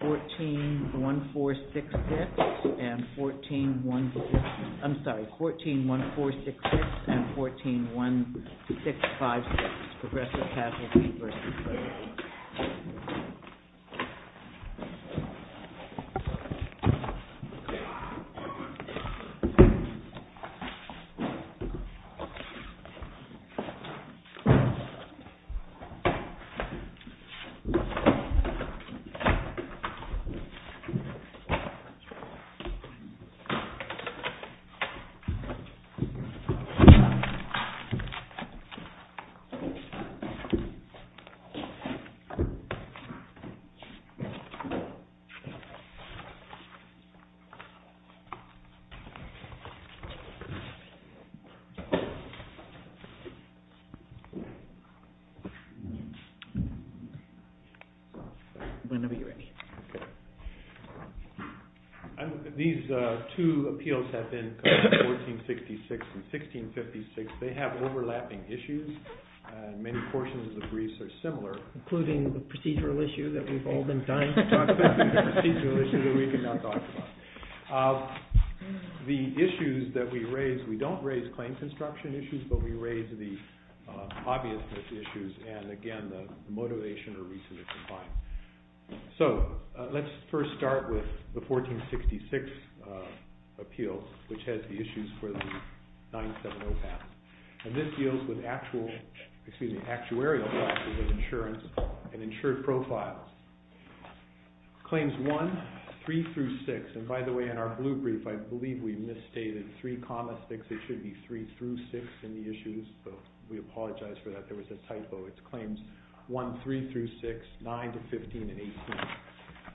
141466 and 1414, I'm sorry, 141466 and 141656, Progressive Casualty versus Liberty. Whenever you're ready. These two appeals have been 14166 and 1656. They have overlapping issues. Many portions of the briefs are similar. Including the procedural issue that we've all been dying to talk about. The procedural issue that we cannot talk about. The issues that we raise, we don't raise claim construction issues, but we raise the obviousness issues and, again, the motivation or reason to complain. So, let's first start with the 14166 appeal, which has the issues for the 970 path. And this deals with actual, excuse me, actuarial processes of insurance and insured profiles. Claims 1, 3 through 6, and by the way, in our blue brief, I believe we misstated 3,6. It should be 3 through 6 in the issues, but we apologize for that. There was a typo. It's claims 1, 3 through 6, 9 to 15 and 18.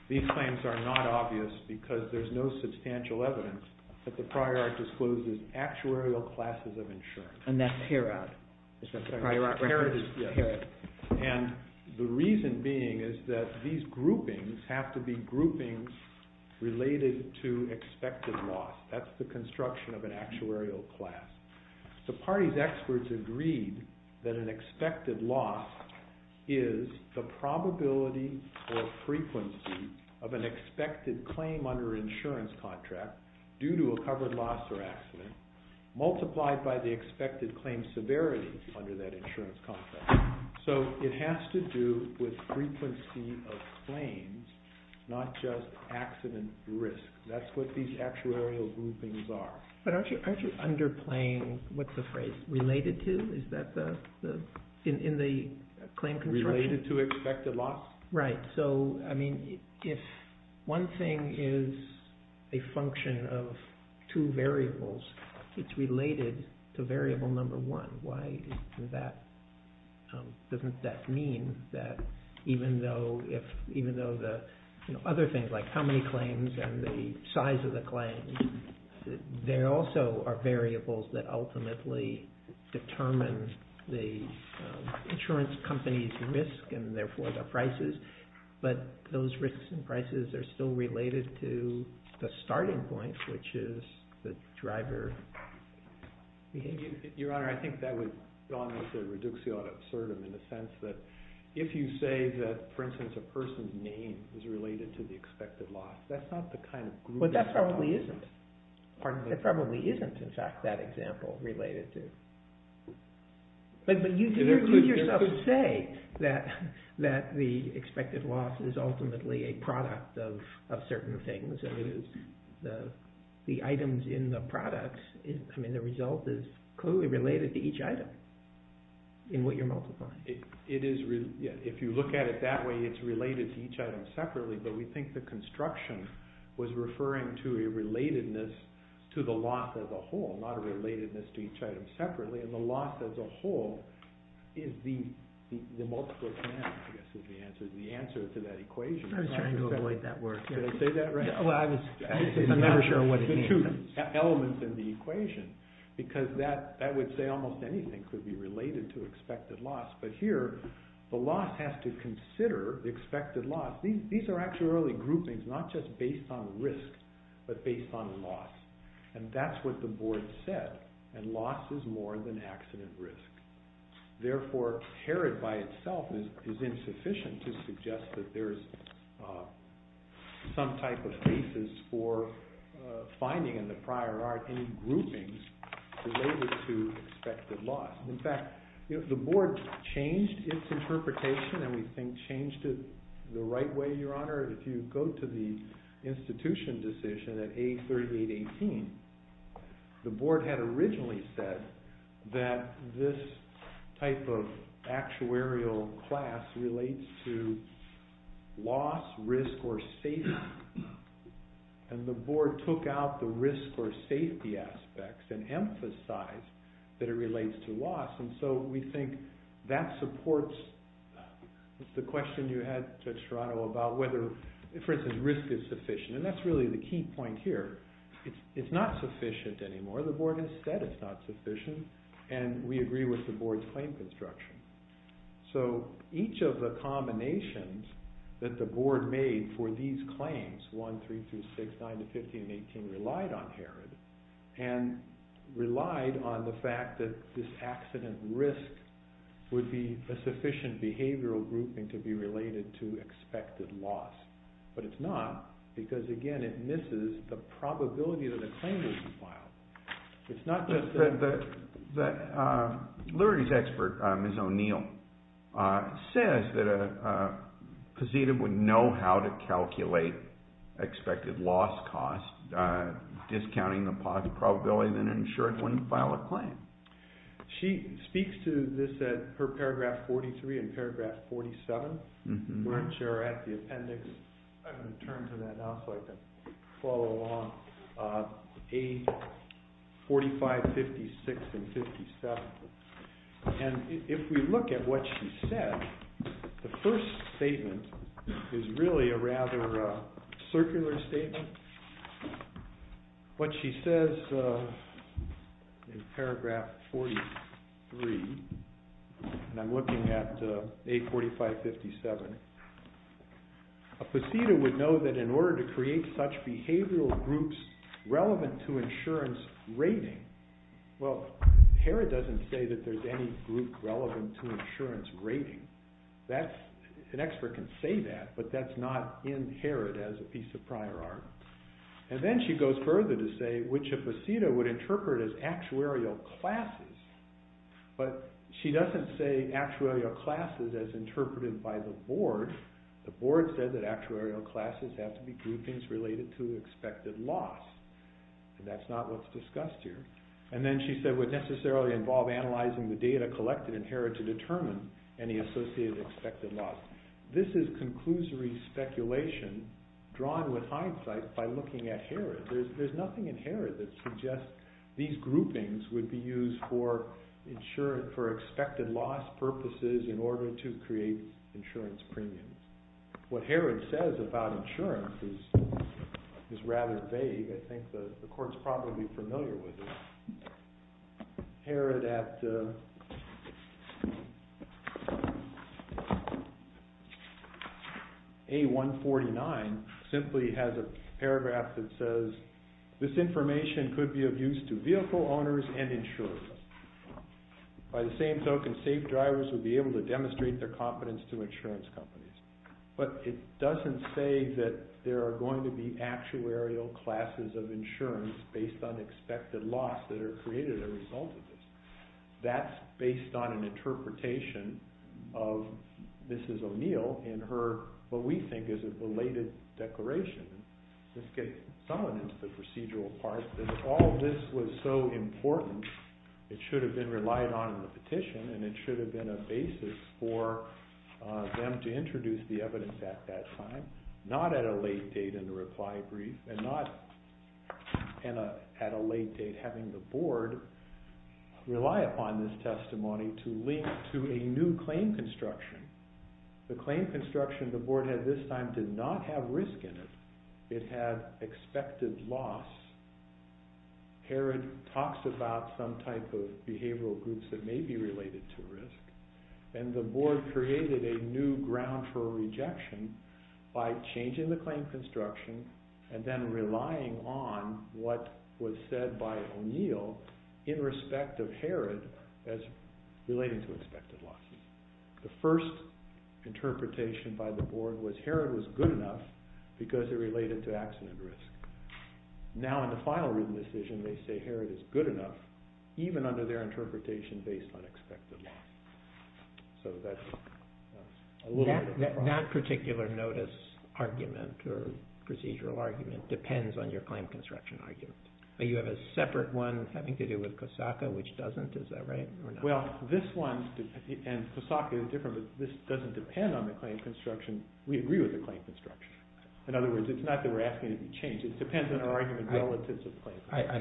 These claims are not obvious because there's no substantial evidence that the prior act discloses actuarial classes of insurance. And that pair out. And the reason being is that these groupings have to be groupings related to expected loss. That's the construction of an actuarial class. The party's experts agreed that an expected loss is the probability or frequency of an expected claim under an insurance contract due to a covered loss or accident multiplied by the expected claim severity under that insurance contract. So, it has to do with frequency of claims, not just accident risk. That's what these actuarial groupings are. But aren't you underplaying what the phrase related to is in the claim construction? Related to expected loss? Right. So, I mean, if one thing is a function of two variables, it's related to variable number one. Why doesn't that mean that even though the other things like how many claims and the size of the claims, there also are variables that ultimately determine the insurance company's risk and therefore their prices. But those risks and prices are still related to the starting point, which is the driver behavior. Your Honor, I think that would be almost a reductio ad absurdum in the sense that if you say that, for instance, a person's name is related to the expected loss, that's not the kind of group… But that probably isn't. It probably isn't, in fact, that example related to… But you yourself say that the expected loss is ultimately a product of certain things. The items in the product, I mean, the result is clearly related to each item in what you're multiplying. If you look at it that way, it's related to each item separately, but we think the construction was referring to a relatedness to the loss as a whole, not a relatedness to each item separately. And the loss as a whole is the multiple of ten, I guess, is the answer to that equation. I was trying to avoid that word. Did I say that right? I'm never sure what it means. The two elements in the equation, because that would say almost anything could be related to expected loss. But here, the loss has to consider the expected loss. These are actually early groupings, not just based on risk, but based on loss. And that's what the board said. And loss is more than accident risk. Therefore, Herod by itself is insufficient to suggest that there is some type of basis for finding in the prior art any groupings related to expected loss. In fact, the board changed its interpretation, and we think changed it the right way, Your Honor. If you go to the institution decision at A3818, the board had originally said that this type of actuarial class relates to loss, risk, or safety. And the board took out the risk or safety aspects and emphasized that it relates to loss. And so we think that supports the question you had, Judge Serrato, about whether, for instance, risk is sufficient. And that's really the key point here. It's not sufficient anymore. The board has said it's not sufficient, and we agree with the board's claim construction. So each of the combinations that the board made for these claims, 1, 3 through 6, 9 to 15, and 18, relied on Herod and relied on the fact that this accident risk would be a sufficient behavioral grouping to be related to expected loss. But it's not because, again, it misses the probability that a claim would be filed. It's not just that… Lurie's expert, Ms. O'Neill, says that Pazita would know how to calculate expected loss cost, discounting the probability that an insured wouldn't file a claim. She speaks to this at her paragraph 43 and paragraph 47, which are at the appendix. I'm going to turn to that now so I can follow along. A4556 and 57. And if we look at what she said, the first statement is really a rather circular statement. What she says in paragraph 43, and I'm looking at A4557, a Pazita would know that in order to create such behavioral groups relevant to insurance rating… Well, Herod doesn't say that there's any group relevant to insurance rating. An expert can say that, but that's not in Herod as a piece of prior art. And then she goes further to say, which a Pazita would interpret as actuarial classes. But she doesn't say actuarial classes as interpreted by the board. The board said that actuarial classes have to be groupings related to expected loss. And that's not what's discussed here. And then she said would necessarily involve analyzing the data collected in Herod to determine any associated expected loss. This is conclusory speculation drawn with hindsight by looking at Herod. There's nothing in Herod that suggests these groupings would be used for expected loss purposes in order to create insurance premiums. What Herod says about insurance is rather vague. I think the court's probably familiar with it. Herod at A149 simply has a paragraph that says, this information could be of use to vehicle owners and insurers. By the same token, safe drivers would be able to demonstrate their competence to insurance companies. But it doesn't say that there are going to be actuarial classes of insurance based on expected loss that are created as a result of this. That's based on an interpretation of Mrs. O'Neill in her, what we think is a belated declaration. Let's get someone into the procedural part. All of this was so important, it should have been relied on in the petition. And it should have been a basis for them to introduce the evidence at that time, not at a late date in the reply brief, and not at a late date having the board rely upon this testimony to link to a new claim construction. The claim construction the board had this time did not have risk in it. It had expected loss. Herod talks about some type of behavioral groups that may be related to risk. And the board created a new ground for rejection by changing the claim construction and then relying on what was said by O'Neill in respect of Herod as relating to expected loss. The first interpretation by the board was Herod was good enough because it related to accident risk. Now in the final written decision they say Herod is good enough even under their interpretation based on expected loss. So that's a little bit of a problem. That particular notice argument or procedural argument depends on your claim construction argument. You have a separate one having to do with Kosaka which doesn't, is that right? Well, this one, and Kosaka is different, but this doesn't depend on the claim construction. We agree with the claim construction. In other words, it's not that we're asking it to be changed. It depends on our argument relative to the claim construction. I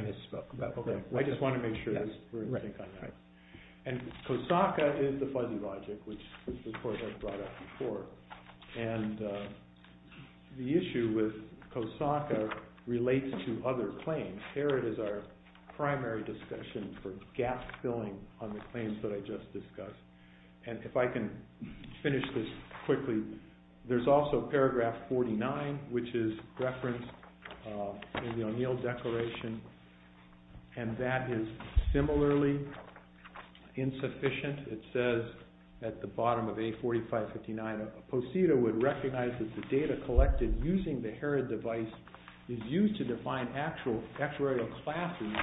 misspoke. I just want to make sure we're in sync on that. And Kosaka is the fuzzy logic which the board has brought up before. And the issue with Kosaka relates to other claims. Herod is our primary discussion for gap-filling on the claims that I just discussed. And if I can finish this quickly, there's also paragraph 49 which is referenced in the O'Neill declaration, and that is similarly insufficient. It says at the bottom of A4559, Posita would recognize that the data collected using the Herod device is used to define actuarial classes.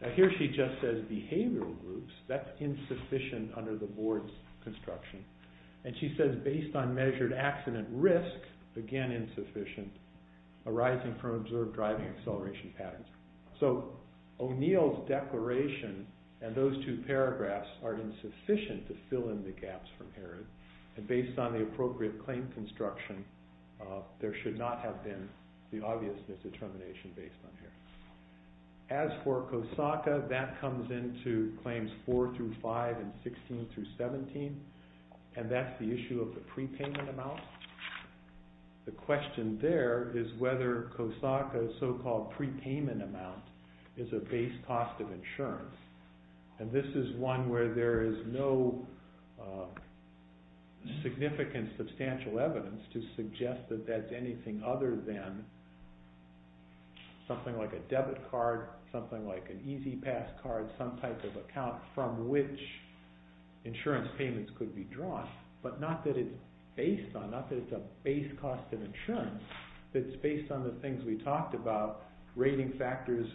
Now here she just says behavioral groups. That's insufficient under the board's construction. And she says based on measured accident risk, again insufficient, arising from observed driving acceleration patterns. So O'Neill's declaration and those two paragraphs are insufficient to fill in the gaps from Herod. And based on the appropriate claim construction, there should not have been the obviousness determination based on Herod. As for Kosaka, that comes into claims 4 through 5 and 16 through 17. And that's the issue of the prepayment amount. The question there is whether Kosaka's so-called prepayment amount is a base cost of insurance. And this is one where there is no significant substantial evidence to suggest that that's anything other than something like a debit card, something like an E-ZPass card, some type of account from which insurance payments could be drawn. But not that it's based on, not that it's a base cost of insurance. It's based on the things we talked about, rating factors,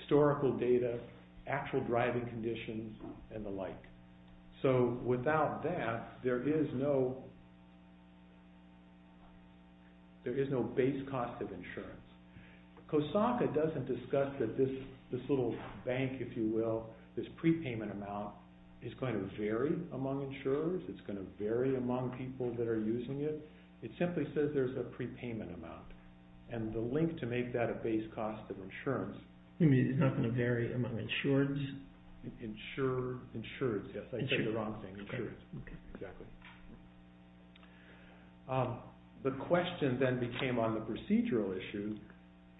historical data, actual driving conditions, and the like. So without that, there is no base cost of insurance. Kosaka doesn't discuss that this little bank, if you will, this prepayment amount is going to vary among insurers. It's going to vary among people that are using it. It simply says there's a prepayment amount. And the link to make that a base cost of insurance. You mean it's not going to vary among insureds? Insureds, yes. I said the wrong thing, insureds. Okay. Exactly. The question then became on the procedural issue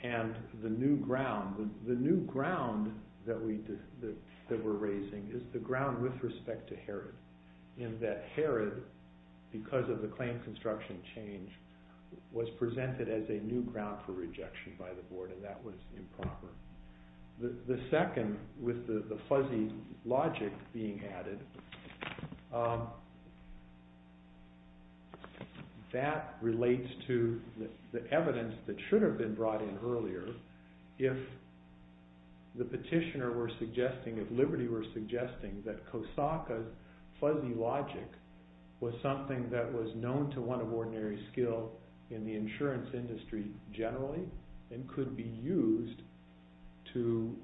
and the new ground. The new ground that we're raising is the ground with respect to Herod in that Herod, because of the claim construction change, was presented as a new ground for rejection by the board, and that was improper. The second, with the fuzzy logic being added, that relates to the evidence that should have been brought in earlier. If the petitioner were suggesting, if Liberty were suggesting that Kosaka's fuzzy logic was something that was known to one of ordinary skill in the insurance industry generally and could be used to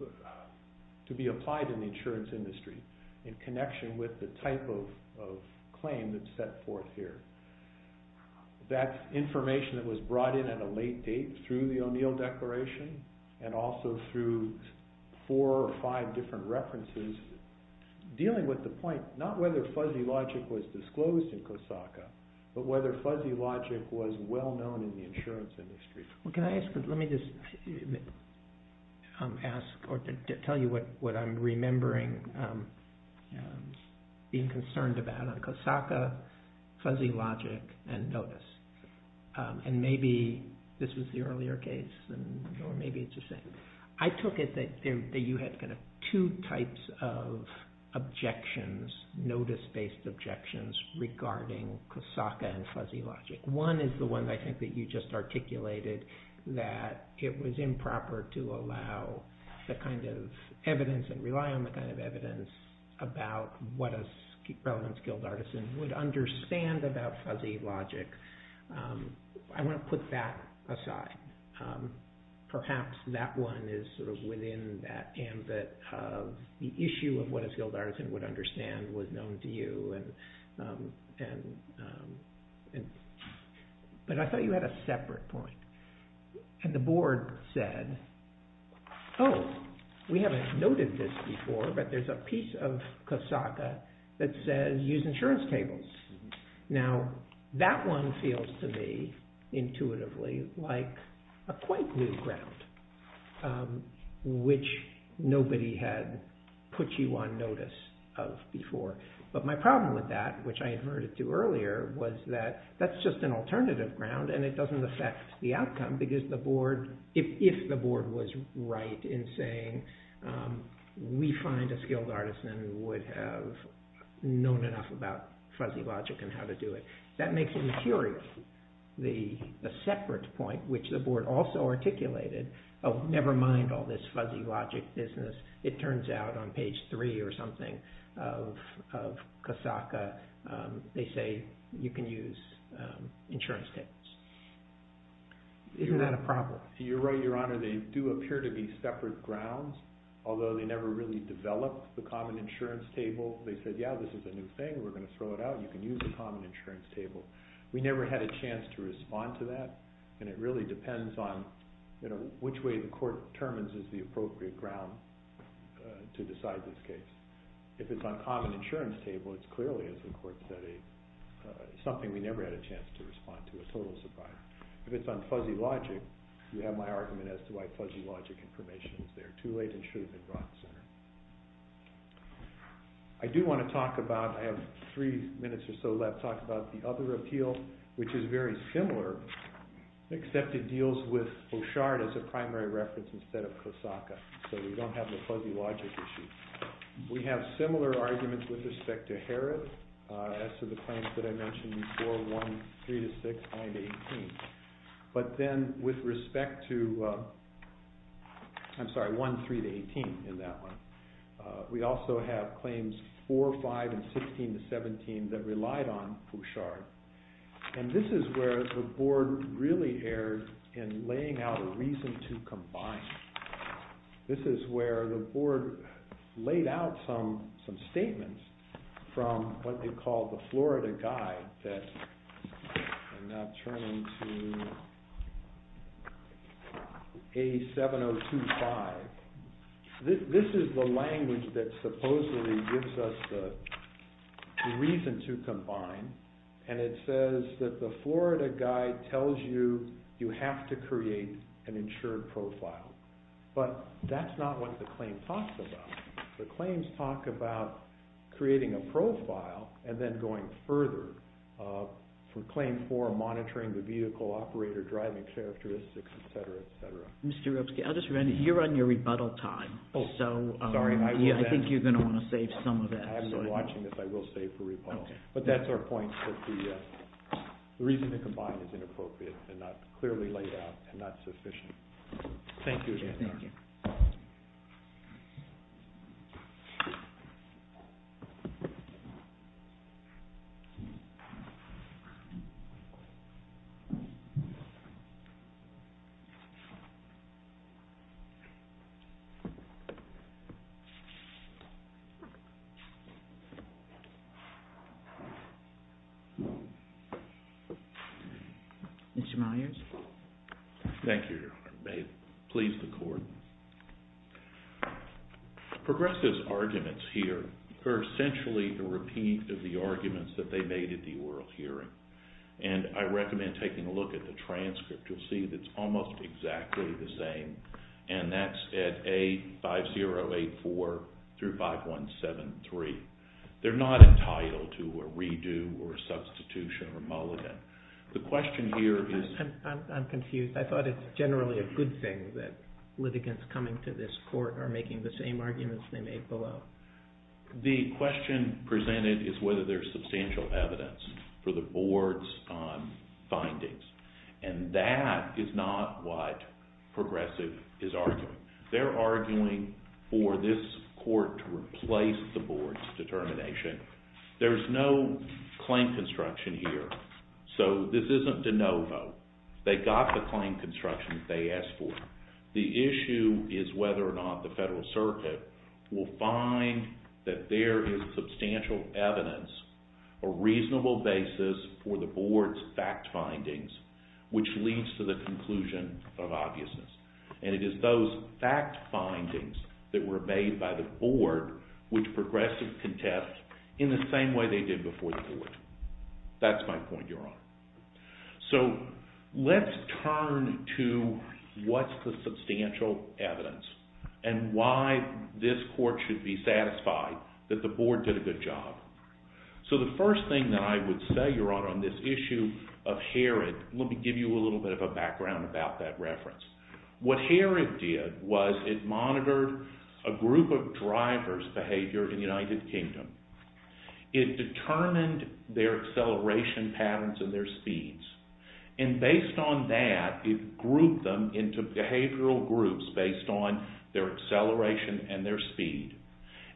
be applied in the insurance industry in connection with the type of claim that's set forth here. That information that was brought in at a late date through the O'Neill Declaration and also through four or five different references, dealing with the point not whether fuzzy logic was disclosed in Kosaka, but whether fuzzy logic was well known in the insurance industry. Can I ask, let me just ask or tell you what I'm remembering being concerned about on Kosaka, fuzzy logic, and notice. And maybe this was the earlier case, or maybe it's the same. I took it that you had two types of objections, notice-based objections, regarding Kosaka and fuzzy logic. One is the one I think that you just articulated, that it was improper to allow the kind of evidence and rely on the kind of evidence about what a relevant skilled artisan would understand about fuzzy logic. I want to put that aside. Perhaps that one is sort of within that ambit of the issue of what a skilled artisan would understand was known to you. But I thought you had a separate point. And the board said, oh, we haven't noted this before, but there's a piece of Kosaka that says use insurance tables. Now, that one feels to me intuitively like a quite new ground, which nobody had put you on notice of before. But my problem with that, which I adverted to earlier, was that that's just an alternative ground and it doesn't affect the outcome if the board was right in saying we find a skilled artisan would have known enough about fuzzy logic and how to do it. That makes me curious. The separate point, which the board also articulated, oh, never mind all this fuzzy logic business. It turns out on page three or something of Kosaka, they say you can use insurance tables. Is that a problem? You're right, Your Honor. They do appear to be separate grounds, although they never really developed the common insurance table. They said, yeah, this is a new thing. We're going to throw it out. You can use a common insurance table. We never had a chance to respond to that. And it really depends on which way the court determines is the appropriate ground to decide this case. If it's on common insurance table, it's clearly, as the court said, something we never had a chance to respond to, a total surprise. If it's on fuzzy logic, you have my argument as to why fuzzy logic information is there. Too late and should have been brought sooner. I do want to talk about, I have three minutes or so left, talk about the other appeal, which is very similar, except it deals with Oshard as a primary reference instead of Kosaka. So we don't have the fuzzy logic issue. We have similar arguments with respect to Herod as to the claims that I mentioned before, 1, 3 to 6, 9 to 18. But then with respect to, I'm sorry, 1, 3 to 18 in that one, we also have claims 4, 5, and 16 to 17 that relied on Oshard. And this is where the board really erred in laying out a reason to combine. This is where the board laid out some statements from what they call the Florida Guide that I'm now turning to A7025. This is the language that supposedly gives us the reason to combine. And it says that the Florida Guide tells you you have to create an insured profile. But that's not what the claim talks about. The claims talk about creating a profile and then going further for claim 4, monitoring the vehicle, operator, driving characteristics, etc., etc. You're on your rebuttal time. Sorry. I think you're going to want to save some of that. I've been watching this. I will save for rebuttal. But that's our point that the reason to combine is inappropriate and not clearly laid out and not sufficient. Thank you again. Thank you. Thank you. Mr. Myers. Thank you, Your Honor. May it please the Court. Progressive's arguments here are essentially a repeat of the arguments that they made at the oral hearing. And I recommend taking a look at the transcript. You'll see that it's almost exactly the same, and that's at A5084-5173. They're not entitled to a redo or a substitution or a mulligan. The question here is— I'm confused. I thought it's generally a good thing that litigants coming to this court are making the same arguments they made below. The question presented is whether there's substantial evidence for the board's findings. And that is not what Progressive is arguing. They're arguing for this court to replace the board's determination. There's no claim construction here. So this isn't de novo. They got the claim construction they asked for. The issue is whether or not the Federal Circuit will find that there is substantial evidence, a reasonable basis for the board's fact findings, which leads to the conclusion of obviousness. And it is those fact findings that were made by the board which Progressive contest in the same way they did before the board. So let's turn to what's the substantial evidence and why this court should be satisfied that the board did a good job. So the first thing that I would say, Your Honor, on this issue of Herod—let me give you a little bit of a background about that reference. What Herod did was it monitored a group of drivers' behavior in the United Kingdom. It determined their acceleration patterns and their speeds. And based on that, it grouped them into behavioral groups based on their acceleration and their speed.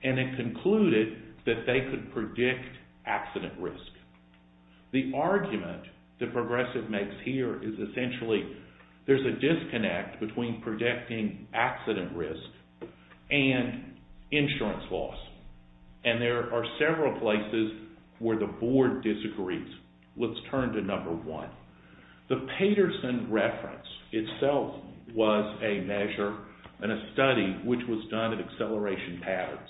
And it concluded that they could predict accident risk. The argument that Progressive makes here is essentially there's a disconnect between predicting accident risk and insurance loss. And there are several places where the board disagrees. Let's turn to number one. The Paterson reference itself was a measure and a study which was done in acceleration patterns.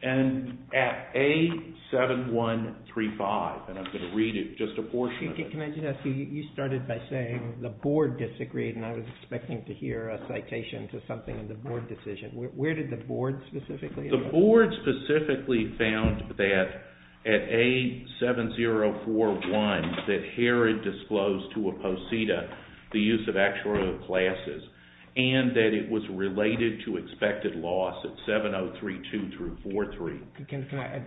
And at A7135—and I'm going to read it just a portion of it. Can I just ask you, you started by saying the board disagreed, and I was expecting to hear a citation to something in the board decision. Where did the board specifically agree? The board specifically found that at A7041 that Herod disclosed to Aposita the use of actuarial classes and that it was related to expected loss at 7032-43.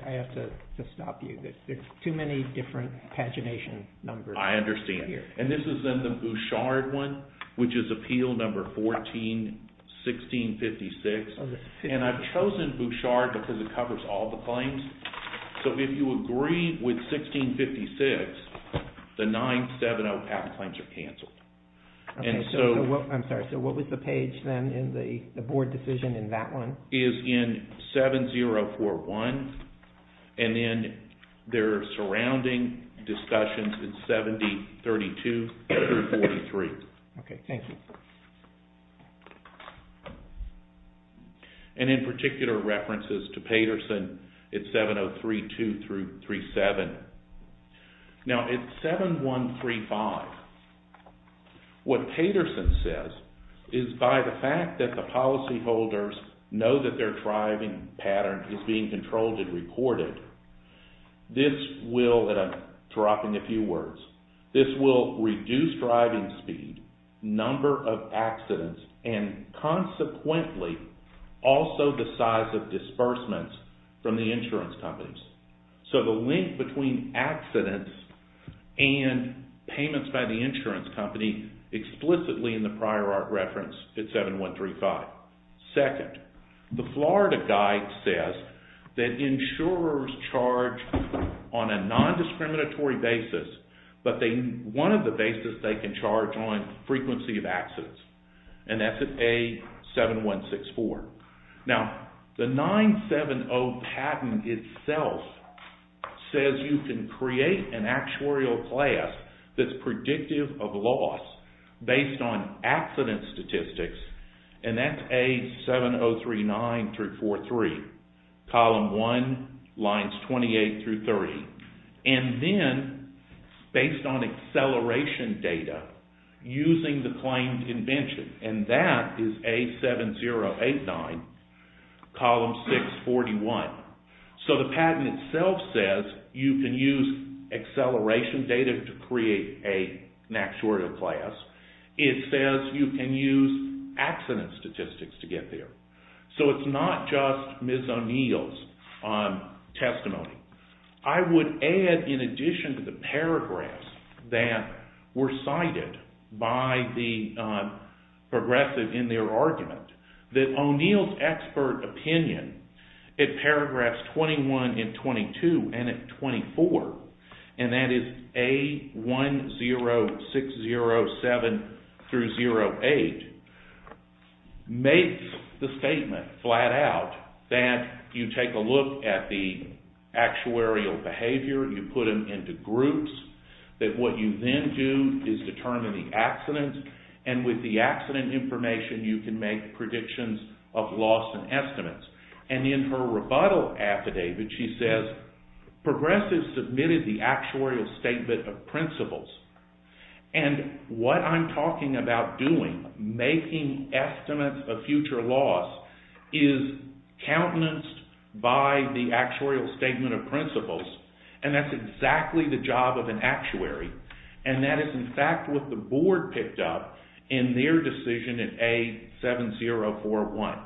I have to stop you. There's too many different pagination numbers. I understand. And this is in the Bouchard one, which is appeal number 14-1656. And I've chosen Bouchard because it covers all the claims. So if you agree with 1656, the 970 patent claims are canceled. I'm sorry, so what was the page then in the board decision in that one? It's in 7041, and then their surrounding discussions in 7032-43. Okay, thank you. And in particular references to Paterson at 7032-37. Now at 7135, what Paterson says is by the fact that the policyholders know that their driving pattern is being controlled and recorded, this will, and I'm dropping a few words, this will reduce driving speed, number of accidents, and consequently also the size of disbursements from the insurance companies. So the link between accidents and payments by the insurance company explicitly in the prior art reference at 7135. Second, the Florida Guide says that insurers charge on a non-discriminatory basis, but one of the basis they can charge on frequency of accidents. And that's at A7164. Now the 970 patent itself says you can create an actuarial class that's predictive of loss based on accident statistics. And that's A7039-43, column 1, lines 28-30. And then based on acceleration data using the claimed invention, and that is A7089, column 641. So the patent itself says you can use acceleration data to create an actuarial class. It says you can use accident statistics to get there. So it's not just Ms. O'Neill's testimony. I would add in addition to the paragraphs that were cited by the progressive in their argument that O'Neill's expert opinion in paragraphs 21 and 22 and 24, and that is A10607-08, makes the statement flat out that you take a look at the actuarial behavior, you put them into groups, that what you then do is determine the accidents, and with the accident information you can make predictions of loss and estimates. And in her rebuttal affidavit she says progressives submitted the actuarial statement of principles. And what I'm talking about doing, making estimates of future loss, is countenanced by the actuarial statement of principles, and that's exactly the job of an actuary, and that is in fact what the board picked up in their decision in A7041.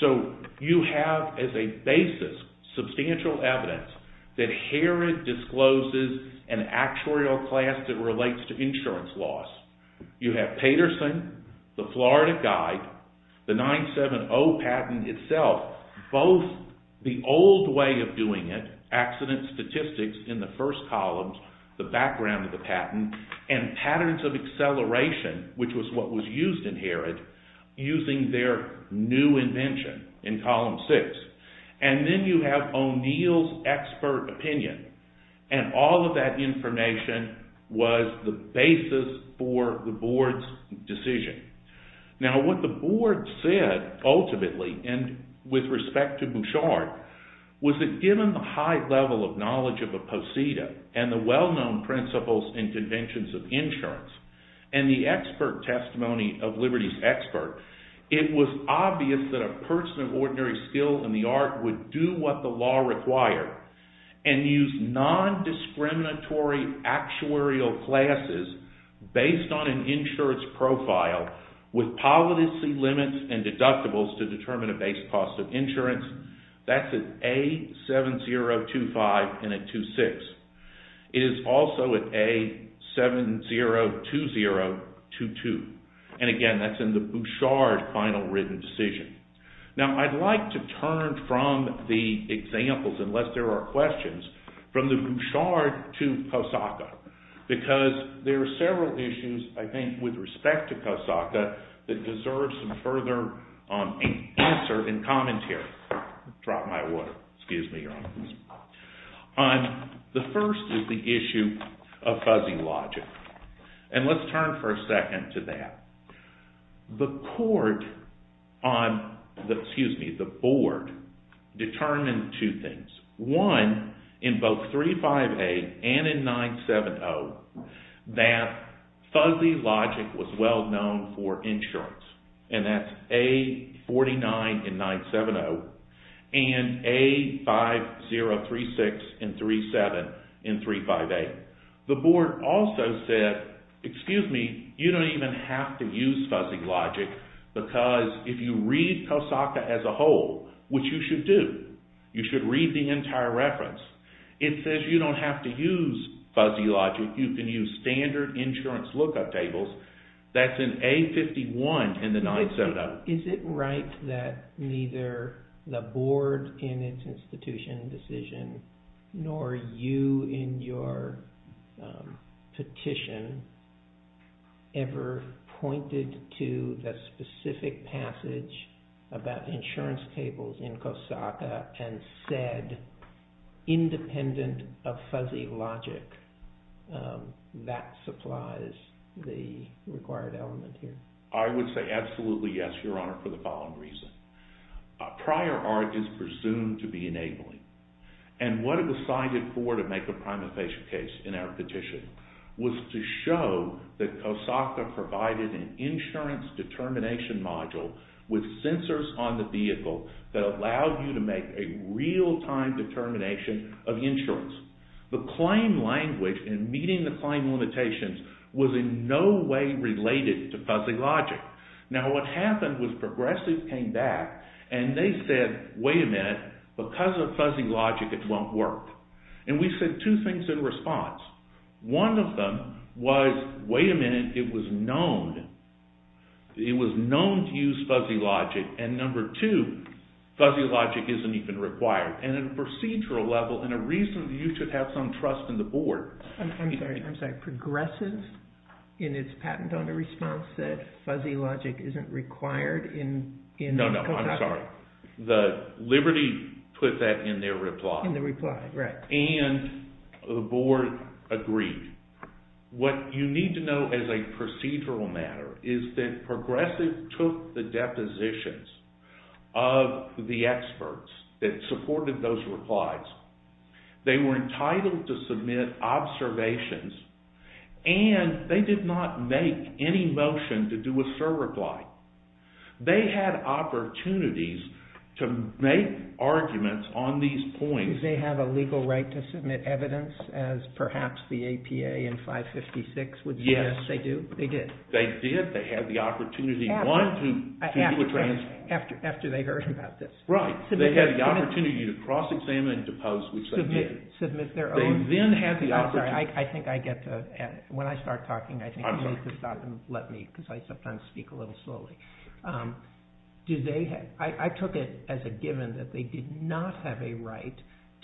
So you have as a basis substantial evidence that Herod discloses an actuarial class that relates to insurance loss. You have Paterson, the Florida Guide, the 970 patent itself, both the old way of doing it, accident statistics in the first columns, the background of the patent, and patterns of acceleration, which was what was used in Herod, using their new invention in column 6. And then you have O'Neill's expert opinion, and all of that information was the basis for the board's decision. Now what the board said ultimately, and with respect to Bouchard, was that given the high level of knowledge of Aposita, and the well-known principles and conventions of insurance, and the expert testimony of Liberty's expert, it was obvious that a person of ordinary skill in the art would do what the law required, and use nondiscriminatory actuarial classes based on an insurance profile with policy limits and deductibles to determine a base cost of insurance. That's at A7025 and at 26. It is also at A702022. And again, that's in the Bouchard final written decision. Now I'd like to turn from the examples, unless there are questions, from the Bouchard to Kosaka, because there are several issues, I think, with respect to Kosaka that deserve some further answer and commentary. The first is the issue of fuzzy logic. And let's turn for a second to that. The board determined two things. One, in both 35A and in 970, that fuzzy logic was well known for insurance. And that's A49 and 970, and A5036 and 37 in 35A. The board also said, excuse me, you don't even have to use fuzzy logic, because if you read Kosaka as a whole, which you should do, you should read the entire reference, it says you don't have to use fuzzy logic. You can use standard insurance lookup tables. That's in A51 and the 970. Is it right that neither the board in its institution decision nor you in your petition ever pointed to the specific passage about insurance tables in Kosaka and said, independent of fuzzy logic, that supplies the required element here? I would say absolutely yes, Your Honor, for the following reason. Prior art is presumed to be enabling. And what it was cited for to make a prima facie case in our petition was to show that Kosaka provided an insurance determination module with sensors on the vehicle that allowed you to make a real-time determination of insurance. The claim language in meeting the claim limitations was in no way related to fuzzy logic. Now what happened was Progressive came back and they said, wait a minute, because of fuzzy logic it won't work. And we said two things in response. One of them was, wait a minute, it was known to use fuzzy logic. And number two, fuzzy logic isn't even required. And at a procedural level, and a reason you should have some trust in the board. I'm sorry, Progressive in its patent on the response said fuzzy logic isn't required in Kosaka? No, no, I'm sorry. Liberty put that in their reply. In the reply, right. And the board agreed. What you need to know as a procedural matter is that Progressive took the depositions of the experts that supported those replies. They were entitled to submit observations and they did not make any motion to do a surreply. They had opportunities to make arguments on these points. Did they have a legal right to submit evidence as perhaps the APA in 556 would suggest they do? Yes. They did? They did. They had the opportunity, one, to make a transfer. After they heard about this? Right. They had the opportunity to cross-examine and depose, which they did. Submit their own? They then had the opportunity. I'm sorry, I think I get to, when I start talking, I think you need to stop and let me, because I sometimes speak a little slowly. I took it as a given that they did not have a right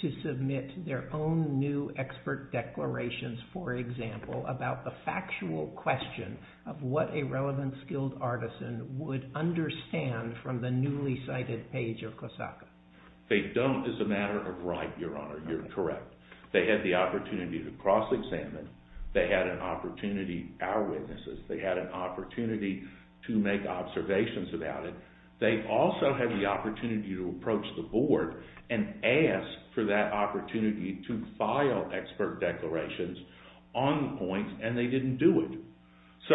to submit their own new expert declarations, for example, about the factual question of what a relevant, skilled artisan would understand from the newly cited page of Kosaka. They don't as a matter of right, Your Honor. You're correct. They had the opportunity to cross-examine. They had an opportunity, our witnesses, they had an opportunity to make observations about it. They also had the opportunity to approach the board and ask for that opportunity to file expert declarations on the points, and they didn't do it. So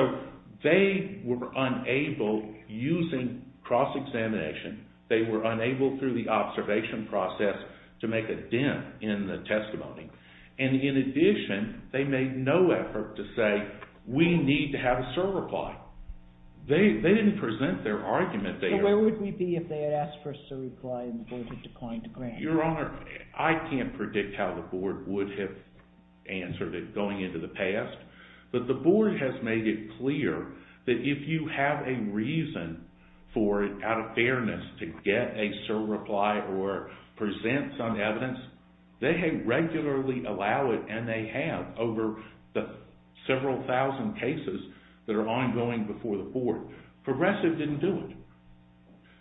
they were unable, using cross-examination, they were unable through the observation process to make a dim in the testimony. And in addition, they made no effort to say, we need to have a certify. They didn't present their argument. So where would we be if they had asked for a certify and the board had declined to grant it? Your Honor, I can't predict how the board would have answered it going into the past, but the board has made it clear that if you have a reason for, out of fairness, to get a certify or present some evidence, they regularly allow it and they have over the several thousand cases that are ongoing before the court. Progressive didn't do it.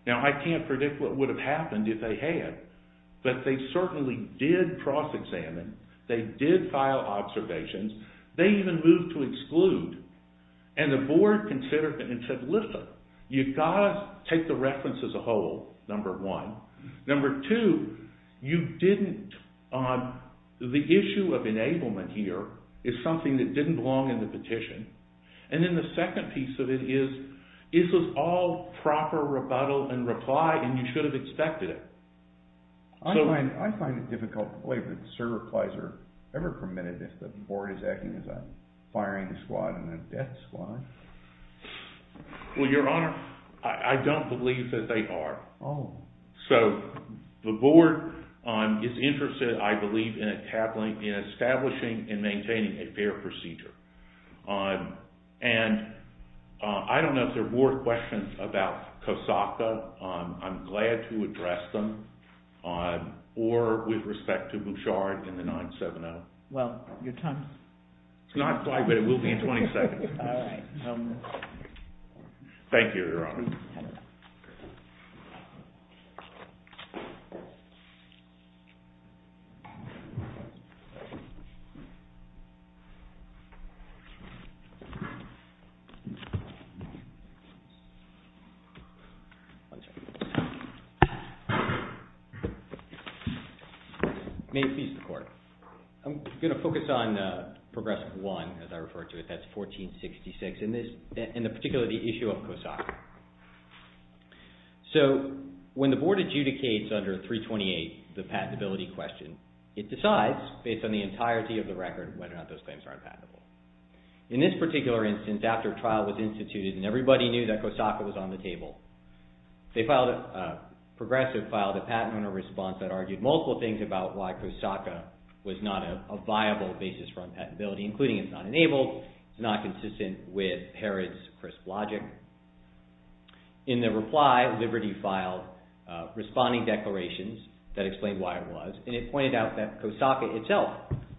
Now I can't predict what would have happened if they had, but they certainly did cross-examine. They did file observations. They even moved to exclude. And the board considered and said, listen, you've got to take the reference as a whole, number one. Number two, you didn't, the issue of enablement here is something that didn't belong in the petition. And then the second piece of it is, this was all proper rebuttal and reply and you should have expected it. I find it difficult to believe that certifies are ever permitted if the board is acting as a firing squad and a death squad. Well, Your Honor, I don't believe that they are. So the board is interested, I believe, in establishing and maintaining a fair procedure. And I don't know if there are more questions about Kosaka. I'm glad to address them, or with respect to Bouchard and the 970. Well, your time is up. It's not quite, but it will be in 20 seconds. All right. Thank you, Your Honor. May it please the court. I'm going to focus on Progressive 1, as I refer to it. That's 1466. In particular, the issue of Kosaka. So when the board adjudicates under 328 the patentability question, it decides, based on the entirety of the record, whether or not those claims are unpatentable. In this particular instance, after a trial was instituted and everybody knew that Kosaka was on the table, Progressive filed a patent owner response that argued multiple things about why Kosaka was not a viable basis for unpatentability, including it's not enabled, it's not consistent with Herod's crisp logic. In the reply, Liberty filed responding declarations that explained why it was, and it pointed out that Kosaka itself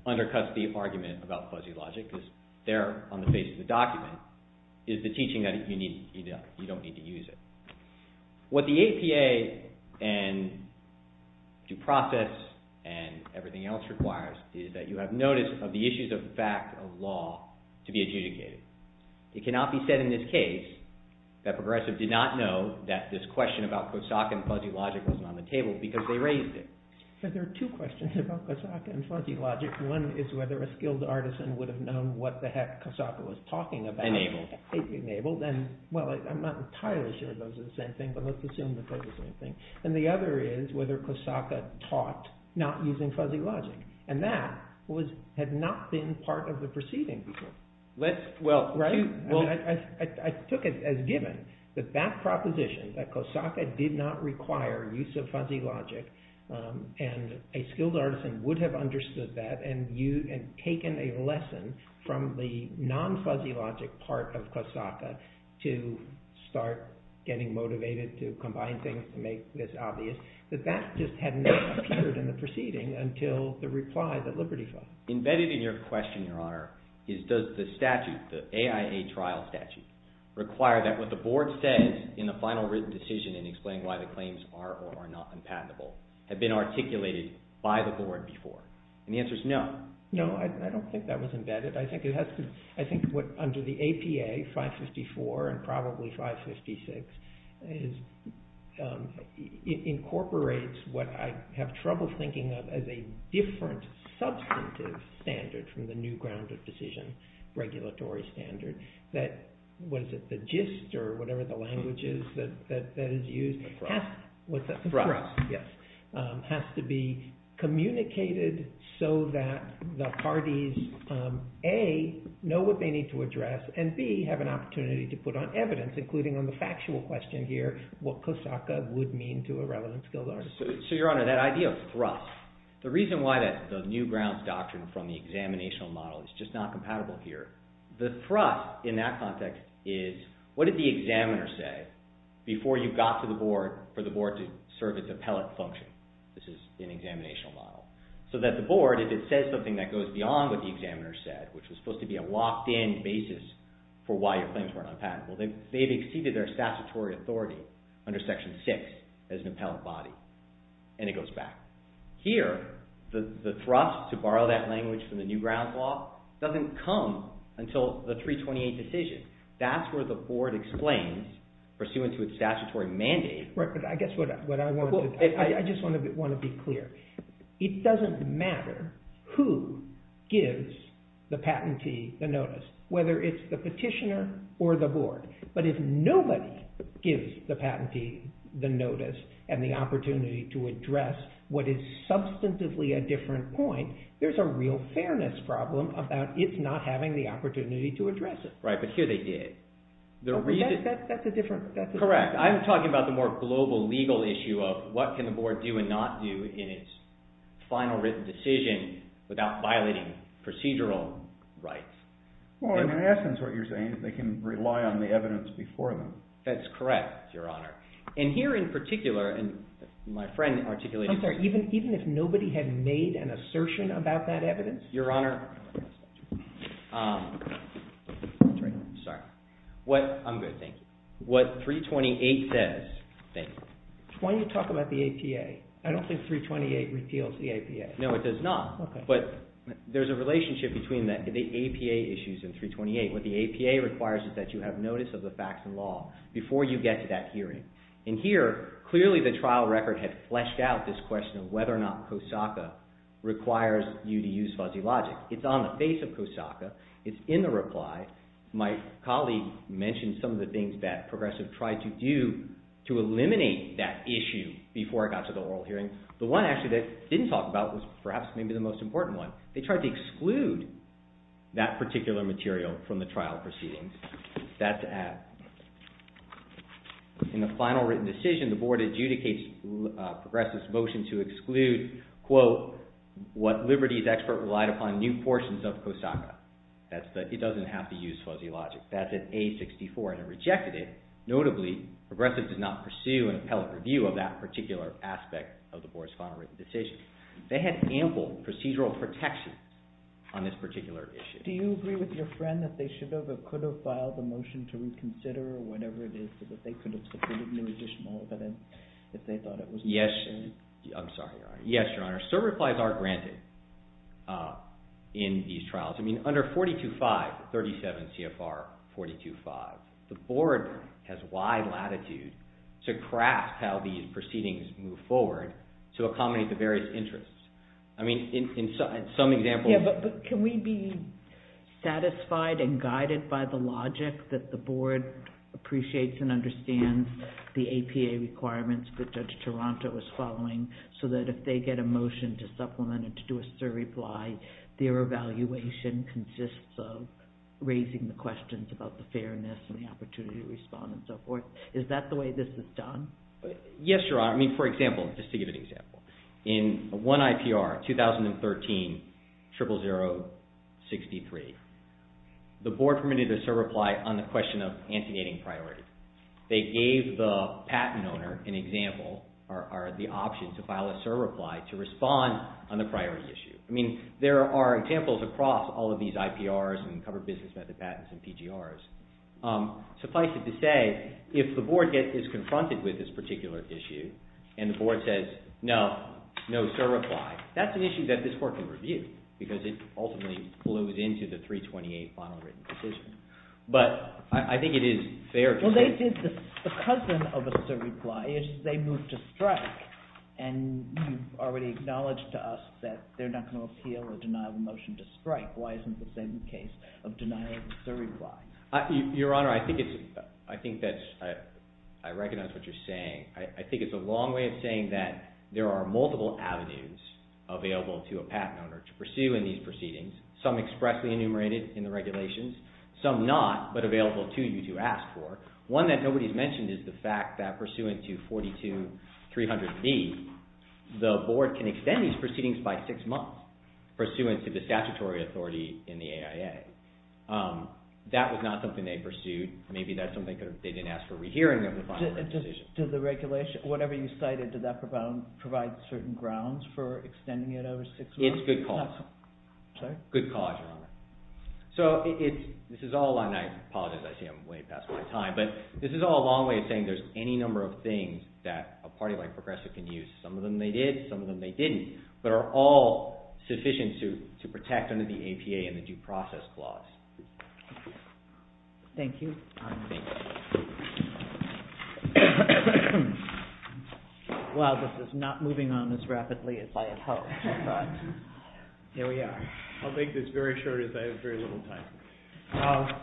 undercuts the argument about fuzzy logic, because they're on the face of the document, is the teaching that you don't need to use it. What the APA and due process and everything else requires is that you have notice of the issues of fact of law to be adjudicated. It cannot be said in this case that Progressive did not know that this question about Kosaka and fuzzy logic wasn't on the table because they raised it. There are two questions about Kosaka and fuzzy logic. One is whether a skilled artisan would have known what the heck Kosaka was talking about. Enabled. Enabled. I'm not entirely sure those are the same thing, but let's assume that they're the same thing. The other is whether Kosaka taught not using fuzzy logic. That had not been part of the proceeding before. I took it as given that that proposition, that Kosaka did not require use of fuzzy logic, and a skilled artisan would have understood that, and taken a lesson from the non-fuzzy logic part of Kosaka to start getting motivated to combine things to make this obvious, that that just had not appeared in the proceeding until the reply that Liberty filed. Embedded in your question, Your Honor, is does the statute, the AIA trial statute, require that what the board says in the final written decision in explaining why the claims are or are not unpatentable have been articulated by the board before? And the answer is no. No, I don't think that was embedded. I think what under the APA 554 and probably 556 incorporates what I have trouble thinking of as a different substantive standard from the new ground of decision regulatory standard, that the gist or whatever the language is that is used has to be communicated so that the parties, A, know what they need to address, and B, have an opportunity to put on evidence, including on the factual question here, what Kosaka would mean to a relevant skilled artisan. So, Your Honor, that idea of thrust, the reason why the new grounds doctrine from the examinational model is just not compatible here, the thrust in that context is what did the examiner say before you got to the board for the board to serve its appellate function. This is an examinational model. So that the board, if it says something that goes beyond what the examiner said, which was supposed to be a locked-in basis for why your claims weren't unpatentable, they've exceeded their statutory authority under section six as an appellate body, and it goes back. Here, the thrust to borrow that language from the new grounds law doesn't come until the 328 decision. That's where the board explains, pursuant to its statutory mandate. Right, but I guess what I want to – I just want to be clear. It doesn't matter who gives the patentee the notice, whether it's the petitioner or the board. But if nobody gives the patentee the notice and the opportunity to address what is substantively a different point, there's a real fairness problem about its not having the opportunity to address it. Right, but here they did. That's a different – Final written decision without violating procedural rights. Well, in essence what you're saying is they can rely on the evidence before them. That's correct, Your Honor. And here in particular, and my friend articulated – I'm sorry. Even if nobody had made an assertion about that evidence? Your Honor – Sorry. What – I'm going to think. What 328 says – When you talk about the APA, I don't think 328 repeals the APA. No, it does not. But there's a relationship between the APA issues and 328. What the APA requires is that you have notice of the facts and law before you get to that hearing. And here, clearly the trial record had fleshed out this question of whether or not COSACA requires you to use fuzzy logic. It's on the face of COSACA. It's in the reply. My colleague mentioned some of the things that Progressive tried to do to eliminate that issue before it got to the oral hearing. The one actually they didn't talk about was perhaps maybe the most important one. They tried to exclude that particular material from the trial proceedings. That's to add. In the final written decision, the board adjudicates Progressive's motion to exclude, quote, what Liberty's expert relied upon, new portions of COSACA. It doesn't have to use fuzzy logic. That's an A64, and it rejected it. Notably, Progressive did not pursue an appellate review of that particular aspect of the board's final written decision. They had ample procedural protection on this particular issue. Do you agree with your friend that they should have or could have filed a motion to reconsider or whatever it is, so that they could have submitted new additional evidence if they thought it was necessary? Yes. I'm sorry, Your Honor. Yes, Your Honor. Certain replies are granted in these trials. I mean, under 425, 37 CFR 425, the board has wide latitude to craft how these proceedings move forward to accommodate the various interests. I mean, in some examples... Yeah, but can we be satisfied and guided by the logic that the board appreciates and understands the APA requirements that Judge Taranto is following, so that if they get a motion to supplement or to do a surreply, their evaluation consists of raising the questions about the fairness and the opportunity to respond and so forth? Is that the way this is done? Yes, Your Honor. I mean, for example, just to give an example. In one IPR, 2013, 00063, the board permitted a surreply on the question of anti-gating priorities. They gave the patent owner an example or the option to file a surreply to respond on the priority issue. I mean, there are examples across all of these IPRs and covered business method patents and PGRs. Suffice it to say, if the board is confronted with this particular issue and the board says, no, no surreply, that's an issue that this court can review because it ultimately flows into the 328 final written decision. But I think it is fair to say— Well, they did the cousin of a surreply. They moved to strike, and you've already acknowledged to us that they're not going to appeal a denial of motion to strike. Why isn't the same case of denying a surreply? Your Honor, I think that's—I recognize what you're saying. I think it's a long way of saying that there are multiple avenues available to a patent owner to pursue in these proceedings, some expressly enumerated in the regulations, some not but available to you to ask for. One that nobody's mentioned is the fact that pursuant to 42300B, the board can extend these proceedings by six months pursuant to the statutory authority in the AIA. That was not something they pursued. Maybe that's something they didn't ask for a rehearing of the final written decision. Did the regulation—whatever you cited, did that provide certain grounds for extending it over six months? It's good cause. Good cause, Your Honor. So this is all—and I apologize. I see I'm way past my time. But this is all a long way of saying there's any number of things that a party like Progressive can use. Some of them they did. Some of them they didn't, but are all sufficient to protect under the APA and the due process clause. Thank you. Thank you. Well, this is not moving on as rapidly as I had hoped, but here we are. I'll make this very short as I have very little time.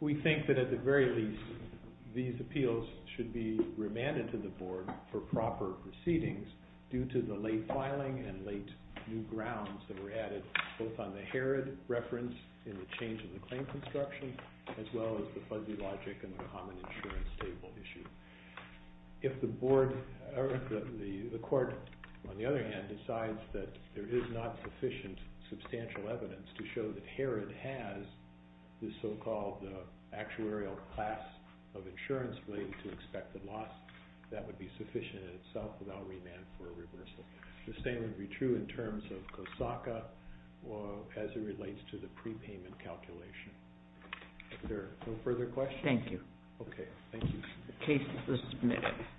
We think that at the very least, these appeals should be remanded to the board for proper proceedings due to the late filing and late new grounds that were added both on the Herod reference in the change in the claim construction as well as the fuzzy logic in the common insurance table issue. If the board—or the court, on the other hand, decides that there is not sufficient substantial evidence to show that Herod has the so-called actuarial class of insurance relating to expected loss, that would be sufficient in itself, and I'll remand for a reversal. The same would be true in terms of Kosaka as it relates to the prepayment calculation. Are there no further questions? Thank you. Okay. Thank you. The case is submitted.